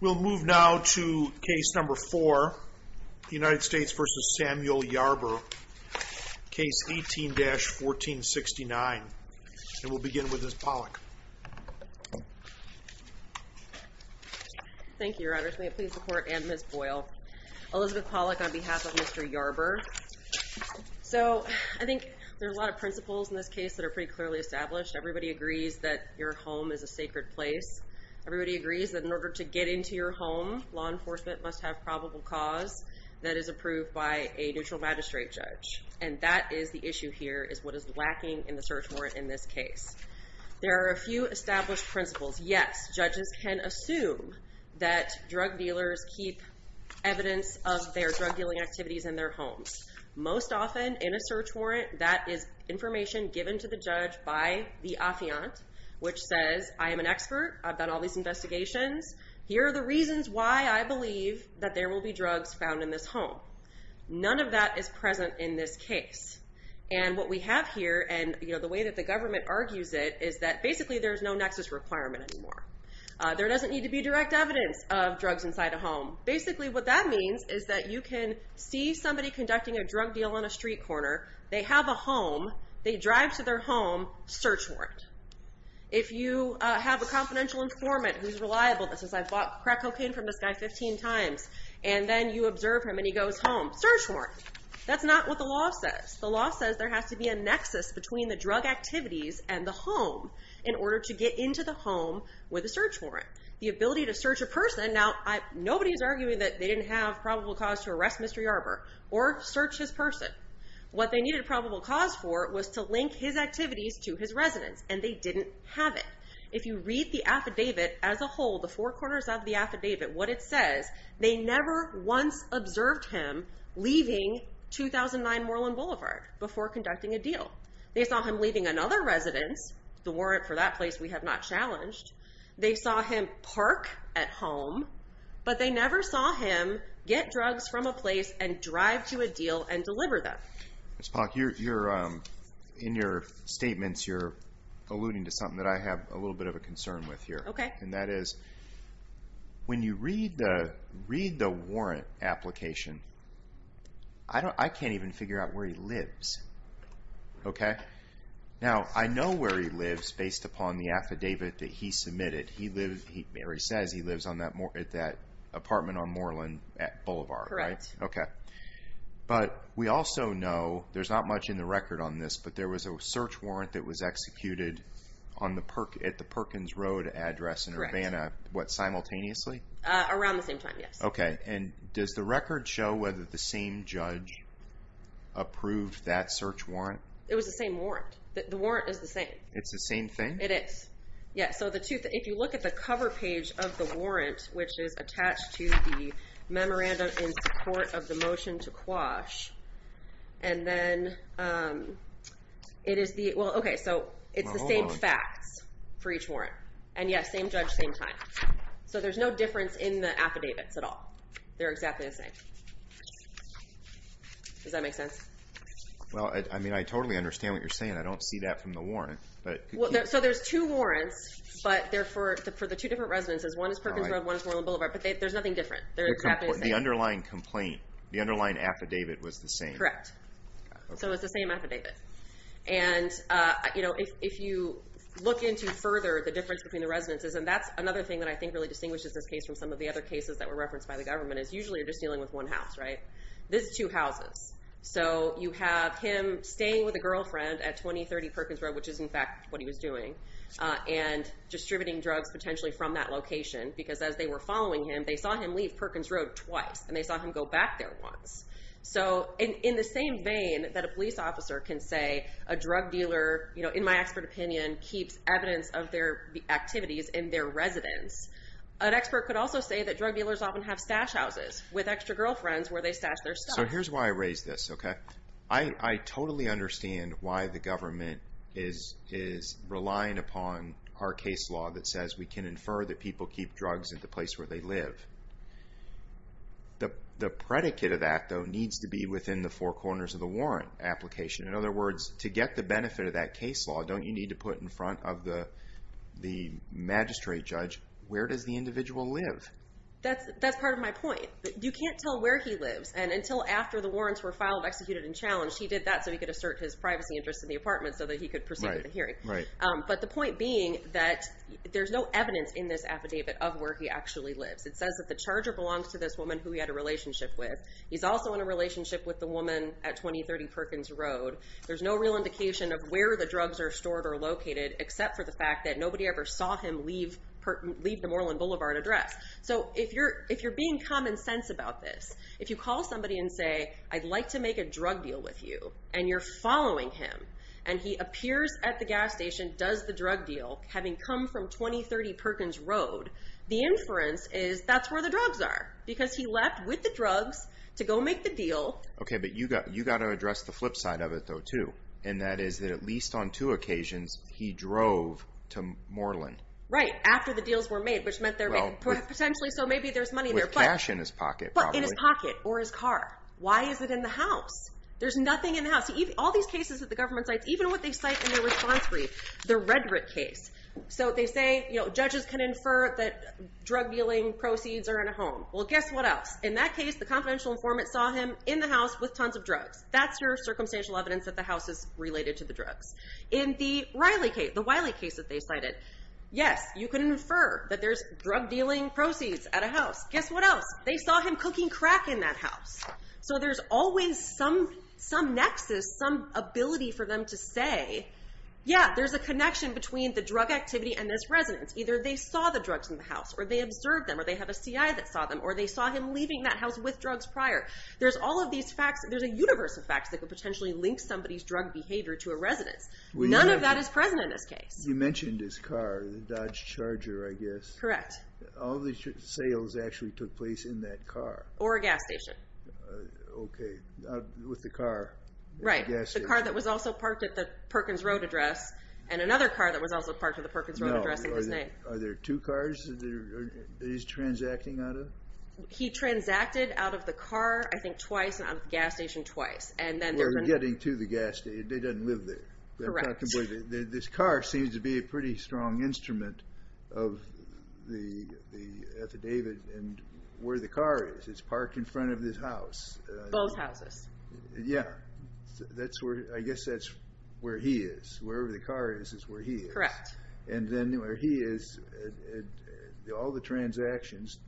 We'll move now to case number four, United States v. Samuel Yarber. Case 18-1469. We'll begin with Ms. Pollack. Thank you, Your Honors. May it please the Court and Ms. Boyle. Elizabeth So, I think there's a lot of principles in this case that are pretty clearly established. Everybody agrees that your home is a sacred place. Everybody agrees that in order to get into your home, law enforcement must have probable cause that is approved by a neutral magistrate judge. And that is the issue here, is what is lacking in the search warrant in this case. There are a few established principles. Yes, judges can assume that drug dealers keep evidence of their drug dealing activities in their homes. Most often, in a search warrant, that is information given to the judge by the affiant, which says, I am an expert. I've done all these investigations. Here are the reasons why I believe that there will be drugs found in this home. None of that is present in this case. And what we have here, and the way that the government argues it, is that basically there's no nexus requirement anymore. There doesn't need to be is that you can see somebody conducting a drug deal on a street corner, they have a home, they drive to their home, search warrant. If you have a confidential informant who's reliable, that says, I've bought crack cocaine from this guy 15 times, and then you observe him and he goes home, search warrant. That's not what the law says. The law says there has to be a nexus between the drug activities and the home in order to get into the home with a search warrant. The ability to search a person, now, nobody's arguing that they didn't have probable cause to arrest Mr. Yarber, or search his person. What they needed probable cause for was to link his activities to his residence, and they didn't have it. If you read the affidavit as a whole, the four corners of the affidavit, what it says, they never once observed him leaving 2009 Moreland Boulevard before conducting a deal. They saw him leaving another residence, the warrant for that place, we have not challenged. They saw him park at home, but they never saw him get drugs from a place and drive to a deal and deliver them. Ms. Polk, in your statements, you're alluding to something that I have a little bit of a concern with here. That is, when you read the warrant application, I can't even figure out where he lives. Now, I know where he lives based upon the affidavit that he submitted. Mary says he lives at that apartment on Moreland Boulevard. Correct. Okay. But we also know, there's not much in the record on this, but there was a search warrant that was executed at the Perkins Road address in Urbana, what, simultaneously? Around the same time, yes. And does the record show whether the same judge approved that search warrant? It was the same warrant. The warrant is the same. It's the same thing? It is. If you look at the cover page of the warrant, which is attached to the memorandum in support of the motion to quash, it's the same facts for each warrant. And yes, same judge, same time. So there's no difference in the affidavits at all. They're exactly the same. Does that make sense? Well, I mean, I totally understand what you're saying. I don't see that from the warrant. But... So there's two warrants, but they're for the two different residences. One is Perkins Road, one is Moreland Boulevard, but there's nothing different. They're exactly the same. The underlying complaint, the underlying affidavit was the same. Correct. So it's the same affidavit. And if you look into further, the difference between the residences, and that's another thing that I think really distinguishes this case from some of the other cases that were referenced by the government, is usually you're just dealing with one house, right? This is two houses. So you have him staying with a girlfriend at 2030 Perkins Road, which is in fact what he was doing, and distributing drugs potentially from that location, because as they were following him, they saw him leave Perkins Road twice, and they saw him go back there once. So in the same vein that a police officer can say a drug dealer, in my expert opinion, keeps evidence of their activities in their residence, an expert could also say that drug dealers often have stash houses with extra girlfriends where they stash their stuff. So here's why I raise this, okay? I totally understand why the government is relying upon our case law that says we can infer that people keep drugs at the place where they live. The predicate of that though needs to be within the four corners of the warrant application. In other words, to get the benefit of that case law, don't you need to put in front of the magistrate judge where does the individual live? That's part of my point. You can't tell where he lives, and until after the warrants were filed, executed, and challenged, he did that so he could assert his privacy interest in the apartment so that he could proceed with the hearing. But the point being that there's no evidence in this affidavit of where he actually lives. It says that the charger belongs to this woman who he had a relationship with. He's also in a relationship with the woman at 2030 Perkins Road. There's no real indication of where the drugs are stored or located except for the fact that nobody ever saw him leave the Moreland Boulevard address. So if you're being common sense about this, if you call somebody and say, I'd like to make a drug deal with you, and you're following him, and he appears at the gas station, does the drug deal, having come from 2030 Perkins Road, the inference is that's where the drugs are because he left with the drugs to go make the deal. Okay, but you got to address the flip side of it though too, and that is that at least on two occasions, he drove to Moreland. Right, after the deals were made, which meant they're potentially, so maybe there's money there. With cash in his pocket. But in his pocket or his car. Why is it in the house? There's nothing in the house. All these cases that the government cites, even what they cite in their response brief, the Redrick case. So they say judges can infer that drug dealing proceeds are in a home. Well, guess what else? In that case, the confidential informant saw him in the house with tons of drugs. That's your circumstantial evidence that the house is related to the drugs. In the Wiley case that they cited, yes, you can infer that there's drug dealing proceeds at a house. Guess what else? They saw him cooking crack in that house. So there's always some nexus, some ability for them to say, yeah, there's a connection between the drug activity and this residence. Either they saw the drugs in the house, or they observed them, or they have a CI that saw them, or they saw him leaving that house with drugs prior. There's all of these facts. There's a universe of facts that could potentially link somebody's drug behavior to a residence. None of that is present in this case. You mentioned his car, the Dodge Charger, I guess. Correct. All these sales actually took place in that car. Or a gas station. Okay. With the car. Right. The car that was also parked at the Perkins Road address, and another car that was also parked at the Perkins Road address. Are there two cars that he's transacting out of? He transacted out of the car, I think, twice, and out of the gas station twice. We're getting to the gas station. They didn't live there. Correct. This car seems to be a pretty strong instrument of the affidavit, and where the car is. It's parked in front of this house. Both houses. Yeah. I guess that's where he is. Wherever the car is, is where he is. Correct. Then where he is, all the transactions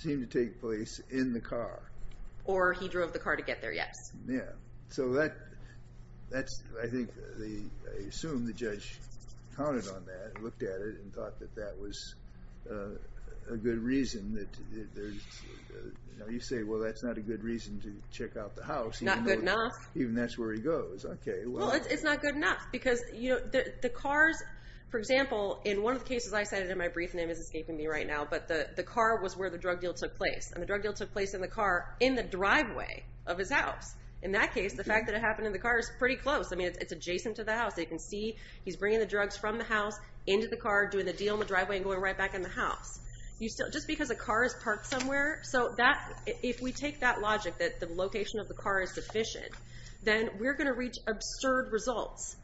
seem to take place in the car. Or he drove the car to get there, yes. Yeah. I assume the judge counted on that, looked at it, and thought that that was a good reason. You say, well, that's not a good reason to check out the house. Not good enough. Even that's where he goes. Okay. It's not good enough, because the cars, for example, in one of the cases I cited in my brief, and it is escaping me right now, but the car was where the drug deal took place, and the drug deal took place in the car in the driveway of his house. In that case, the fact that it happened in the car is pretty close. It's adjacent to the house. You can see he's bringing the drugs from the house into the car, doing the deal in the driveway, and going right back in the house. Just because a car is parked somewhere, if we take that logic, that the location of the car is sufficient, then we're going to reach absurd results.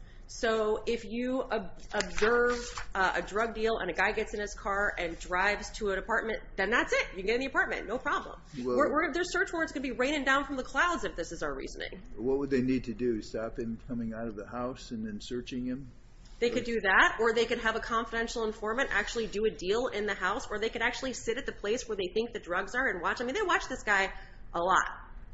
If you observe a drug deal and a guy gets in his car and drives to an apartment, then that's it. You can get in the apartment. No problem. Their search warrants could be raining down from the clouds if this is our reasoning. What would they need to do? Stop him coming out of the house and then searching him? They could do that, or they could have a confidential informant actually do a deal in the house, or they could actually sit at the place where they think the drugs are and watch this guy a lot,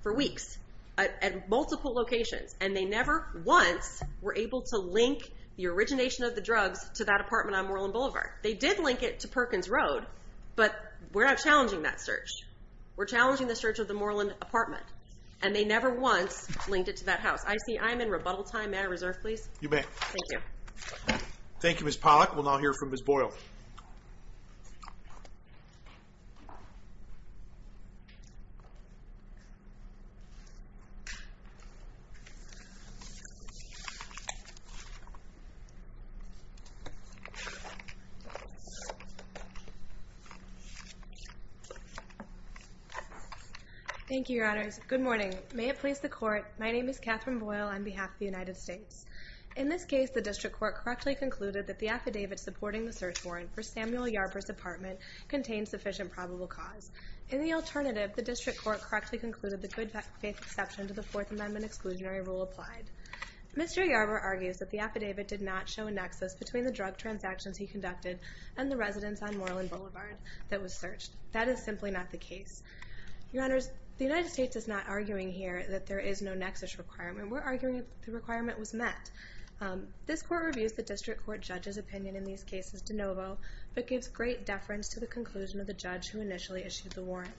for weeks, at multiple locations. They never once were able to link the origination of the drugs to that apartment on Moreland Boulevard. They did link it to Perkins Road, but we're not challenging that search. We're challenging the search of the Moreland apartment. They never once linked it to that house. I see I'm in rebuttal time. May I reserve, please? You may. Thank you. Thank you, Ms. Pollack. We'll now hear from Ms. Boyle. Thank you, Your Honors. Good morning. May it please the Court, my name is Katherine Boyle on behalf of the United States. In this case, the District Court correctly concluded that the affidavit supporting the search warrant for Samuel Yarbrough's apartment contained sufficient probable cause. In the alternative, the District Court correctly concluded the good faith exception to the Fourth Amendment exclusionary rule applied. Mr. Yarbrough argues that the affidavit did not show a nexus between the drug transactions he conducted and the residence on Moreland Boulevard that was searched. That is simply not the case. Your Honors, the United States is not arguing here that there is no nexus requirement. We're arguing the requirement was met. This Court reviews the District Court judge's opinion in these cases de novo, but gives great deference to the conclusion of the judge who initially issued the warrant.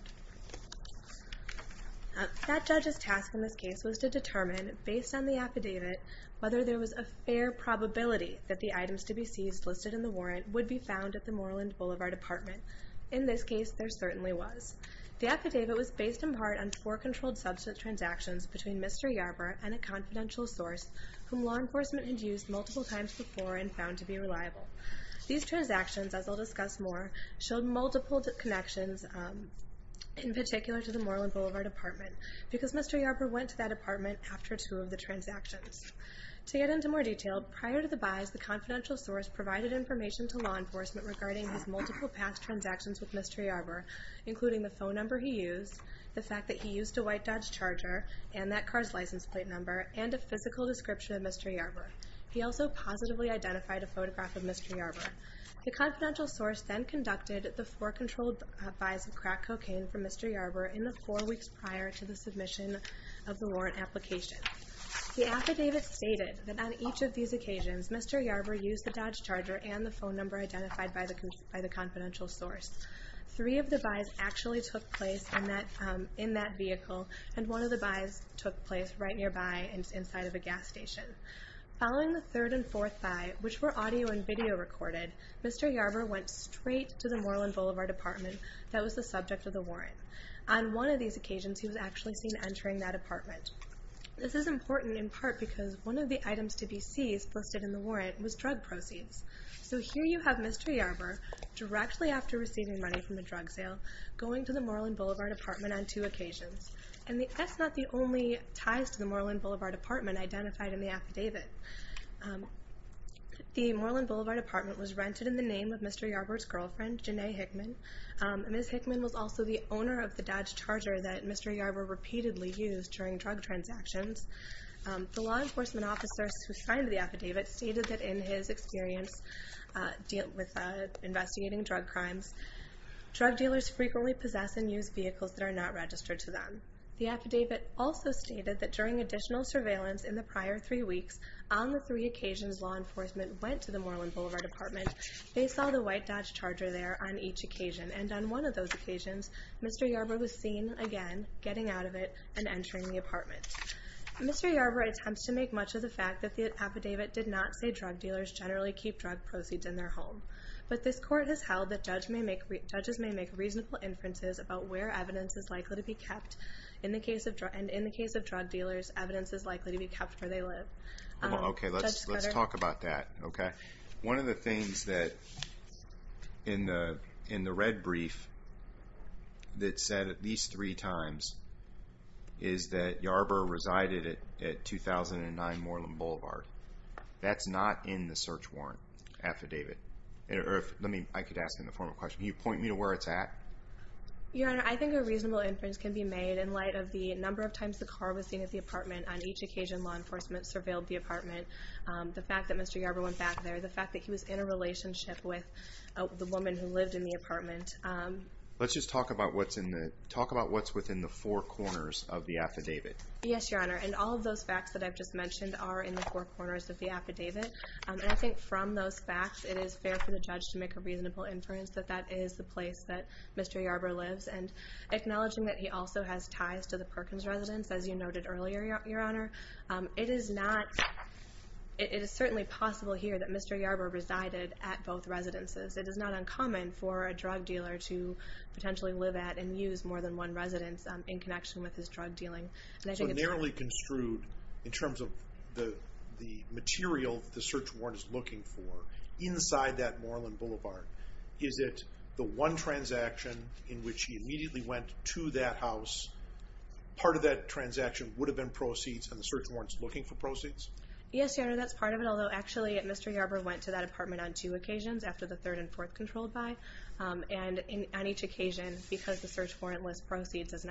That judge's task in this case was to determine, based on the affidavit, whether there was a fair probability that the items to be seized listed in the warrant would be found at the Moreland Boulevard apartment. In this case, there certainly was. The affidavit was based in part on four controlled substance transactions between Mr. Yarbrough and a confidential source whom law enforcement had used multiple times before and multiple connections, in particular to the Moreland Boulevard apartment, because Mr. Yarbrough went to that apartment after two of the transactions. To get into more detail, prior to the buys, the confidential source provided information to law enforcement regarding his multiple past transactions with Mr. Yarbrough, including the phone number he used, the fact that he used a white Dodge Charger, and that car's license plate number, and a physical description of Mr. Yarbrough. He also positively identified a photograph of Mr. Yarbrough. The confidential source then conducted the four controlled buys of crack cocaine for Mr. Yarbrough in the four weeks prior to the submission of the warrant application. The affidavit stated that on each of these occasions, Mr. Yarbrough used the Dodge Charger and the phone number identified by the confidential source. Three of the buys actually took place in that vehicle, and one of the buys took place right nearby and inside of a gas station. Following the third and fourth buy, which were audio and video recorded, Mr. Yarbrough went straight to the Moreland Boulevard apartment that was the subject of the warrant. On one of these occasions, he was actually seen entering that apartment. This is important in part because one of the items to be seized listed in the warrant was drug proceeds. So here you have Mr. Yarbrough, directly after receiving money from a drug sale, going to Moreland Boulevard apartment on two occasions. And that's not the only ties to the Moreland Boulevard apartment identified in the affidavit. The Moreland Boulevard apartment was rented in the name of Mr. Yarbrough's girlfriend, Janae Hickman. Ms. Hickman was also the owner of the Dodge Charger that Mr. Yarbrough repeatedly used during drug transactions. The law enforcement officers who signed the affidavit stated that in his experience with investigating drug crimes, drug dealers frequently possess and use vehicles that are not registered to them. The affidavit also stated that during additional surveillance in the prior three weeks, on the three occasions law enforcement went to the Moreland Boulevard apartment, they saw the white Dodge Charger there on each occasion. And on one of those occasions, Mr. Yarbrough was seen again getting out of it and entering the apartment. Mr. Yarbrough attempts to make much of the fact that the affidavit did not say drug dealers generally keep drug proceeds in their home. But this court has held that judges may make reasonable inferences about where evidence is likely to be kept. And in the case of drug dealers, evidence is likely to be kept where they live. Okay, let's talk about that, okay? One of the things that in the red brief that said at least three times is that Yarbrough resided at 2009 Moreland Boulevard. That's not in the search warrant affidavit. Or if, let me, I could ask in the form of question, can you point me to where it's at? Your Honor, I think a reasonable inference can be made in light of the number of times the car was seen at the apartment on each occasion law enforcement surveilled the apartment. The fact that Mr. Yarbrough went back there, the fact that he was in a relationship with the woman who lived in the apartment. Let's just talk about what's in the, talk about what's within the four corners of the affidavit. Yes, Your Honor, and all of those facts that I've just mentioned are in the four corners of the affidavit. And I think from those facts, it is fair for the judge to make a reasonable inference that that is the place that Mr. Yarbrough lives. And acknowledging that he also has ties to the Perkins residence, as you noted earlier, Your Honor. It is not, it is certainly possible here that Mr. Yarbrough resided at both residences. It is not uncommon for a drug dealer to potentially live at and use more than one in terms of the material the search warrant is looking for inside that Moreland Boulevard. Is it the one transaction in which he immediately went to that house, part of that transaction would have been proceeds and the search warrant's looking for proceeds? Yes, Your Honor, that's part of it. Although actually Mr. Yarbrough went to that apartment on two occasions, after the third and fourth controlled by. And on each occasion, because the search warrant lists proceeds as an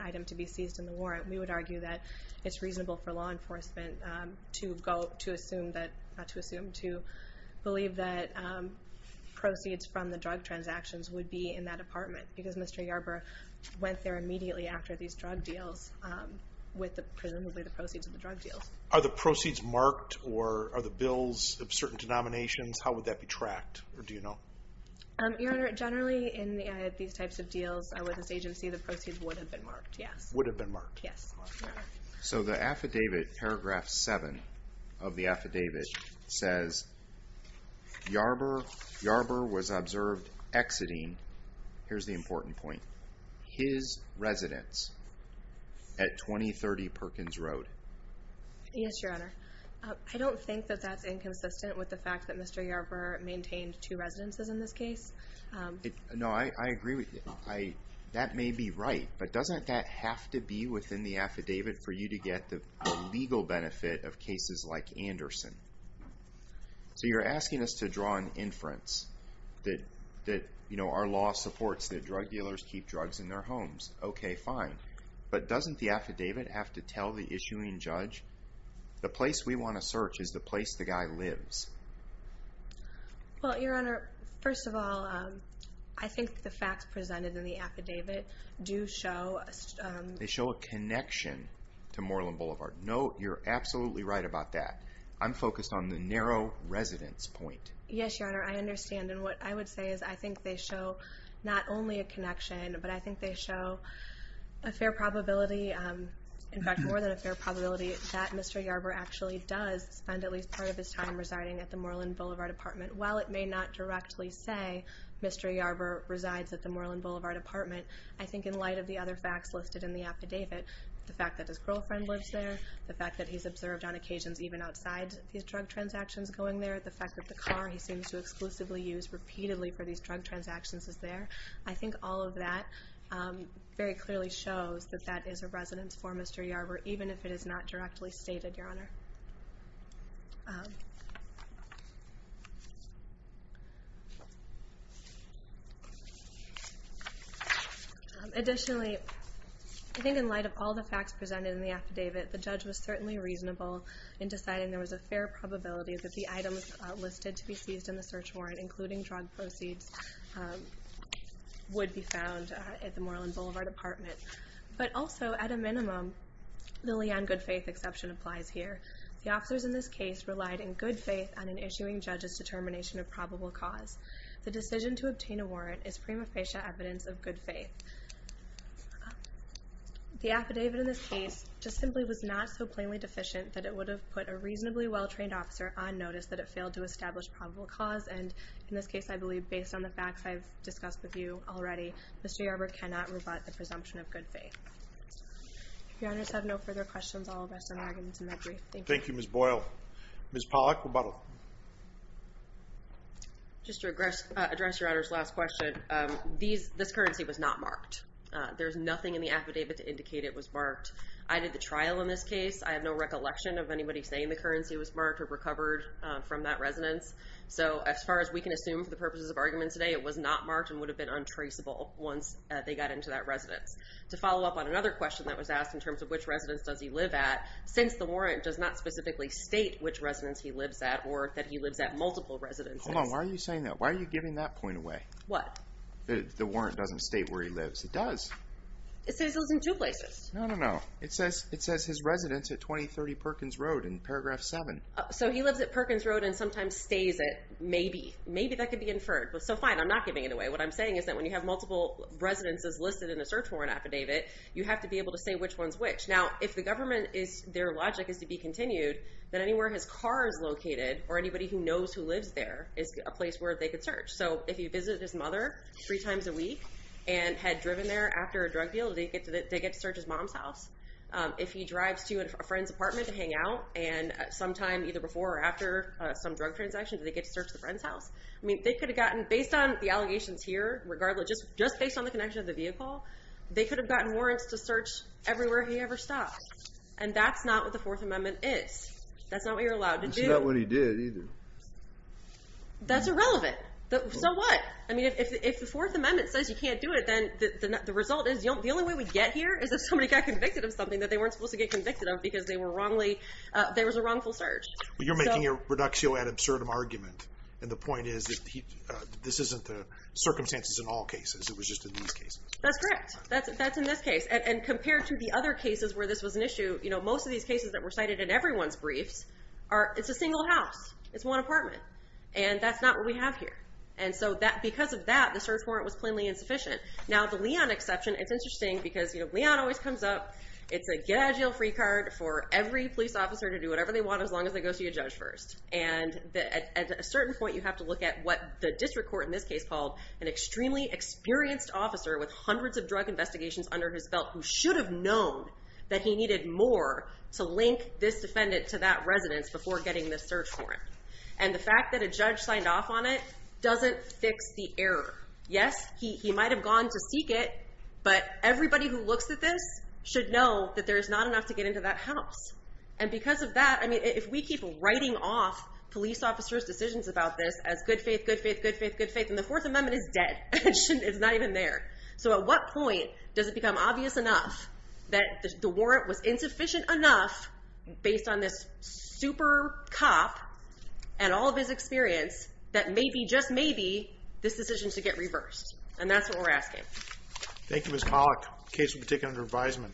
law enforcement, to go to assume that, not to assume, to believe that proceeds from the drug transactions would be in that apartment. Because Mr. Yarbrough went there immediately after these drug deals with presumably the proceeds of the drug deals. Are the proceeds marked or are the bills of certain denominations, how would that be tracked or do you know? Your Honor, generally in these types of deals with this agency, the proceeds would have been marked, yes. Would have been marked. Paragraph seven of the affidavit says, Yarbrough was observed exiting, here's the important point, his residence at 2030 Perkins Road. Yes, Your Honor. I don't think that that's inconsistent with the fact that Mr. Yarbrough maintained two residences in this case. No, I agree with you. That may be right, but doesn't that have to be within the affidavit for you to get the legal benefit of cases like Anderson? So you're asking us to draw an inference that our law supports that drug dealers keep drugs in their homes. Okay, fine. But doesn't the affidavit have to tell the issuing judge, the place we want to search is the place the guy lives? Well, Your Honor, first of all, I think the facts presented in the affidavit do show... to Moreland Boulevard. No, you're absolutely right about that. I'm focused on the narrow residence point. Yes, Your Honor, I understand. And what I would say is I think they show not only a connection, but I think they show a fair probability, in fact, more than a fair probability that Mr. Yarbrough actually does spend at least part of his time residing at the Moreland Boulevard apartment. While it may not directly say Mr. Yarbrough resides at the Moreland Boulevard apartment, I think in light of the other facts listed in the affidavit, the fact that his girlfriend lives there, the fact that he's observed on occasions even outside these drug transactions going there, the fact that the car he seems to exclusively use repeatedly for these drug transactions is there, I think all of that very clearly shows that that is a residence for Mr. Yarbrough. Additionally, I think in light of all the facts presented in the affidavit, the judge was certainly reasonable in deciding there was a fair probability that the items listed to be seized in the search warrant, including drug proceeds, would be found at the Moreland Boulevard apartment. But also, at a minimum, the Leanne Goodfaith exception applies here. The officers in this case relied in good faith on an issuing judge's determination of probable cause. The decision to obtain a warrant is prima facie evidence of good faith. The affidavit in this case just simply was not so plainly deficient that it would have put a reasonably well-trained officer on notice that it failed to establish probable cause, and in this case I believe based on the facts I've discussed with you already, Mr. Yarbrough cannot rebut the presumption of good faith. If your honors have no further questions, I'll address some arguments in that brief. Thank you. Thank you, Ms. Boyle. Ms. Pollack, rebuttal. Just to address your honor's last question, this currency was not marked. There's nothing in the affidavit to indicate it was marked. I did the trial in this case. I have no recollection of anybody saying the currency was marked or recovered from that residence, so as far as we can assume for the purposes of argument today, it was not marked and would have been untraceable once they got into that residence. To follow up on another question that was asked in terms of which residence does he live at, since the warrant does not specifically state which residence he lives at or that he lives at multiple residences... Hold on, why are you saying that? Why are you giving that point away? What? The warrant doesn't state where he lives. It does. It says those in two places. No, no, no. It says it says his residence at 2030 Perkins Road in paragraph seven. So he lives at Perkins Road and sometimes stays at, maybe. Maybe that could be inferred, but so fine. I'm not giving it away. What I'm saying is that when you have multiple residences listed in a search warrant affidavit, you have to be able to say which one's which. Now, if the government is, their logic is to be continued, then anywhere his car is located or anybody who knows who lives there is a place where they could search. So if he visited his mother three times a week and had driven there after a drug deal, they get to search his mom's house. If he drives to a friend's apartment to hang out and sometime either before or after some drug transaction, they get to search the friend's house. I mean, they could have gotten, based on the allegations here, regardless, just based on the connection of the vehicle, they could have gotten warrants to search everywhere he ever stopped. And that's not what the Fourth Amendment is. That's not what you're allowed to do. That's not what he did either. That's irrelevant. So what? I mean, if the Fourth Amendment says you can't do it, then the result is the only way we get here is if somebody got convicted of something that they weren't supposed to get convicted of because they were wrongly, there was a wrongful search. But you're making a reductio ad absurdum argument. And the point is that this isn't the circumstances in all cases. It was just in these cases. That's correct. That's in this case. And compared to the other cases where this was an issue, most of these cases that were cited in everyone's briefs are, it's a single house. It's one apartment. And that's not what we have here. And so because of that, the search warrant was always comes up. It's a get out of jail free card for every police officer to do whatever they want as long as they go see a judge first. And at a certain point, you have to look at what the district court in this case called an extremely experienced officer with hundreds of drug investigations under his belt who should have known that he needed more to link this defendant to that residence before getting this search warrant. And the fact that a judge signed off on it doesn't fix the error. Yes, he might have gone to seek it. But everybody who looks at this should know that there is not enough to get into that house. And because of that, I mean, if we keep writing off police officers' decisions about this as good faith, good faith, good faith, good faith, and the Fourth Amendment is dead, it's not even there. So at what point does it become obvious enough that the warrant was insufficient enough based on this super cop and all of his experience that maybe, just maybe, this decision should get reversed? And that's what we're asking. Thank you, Ms. Pollack. Case will be taken under advisement.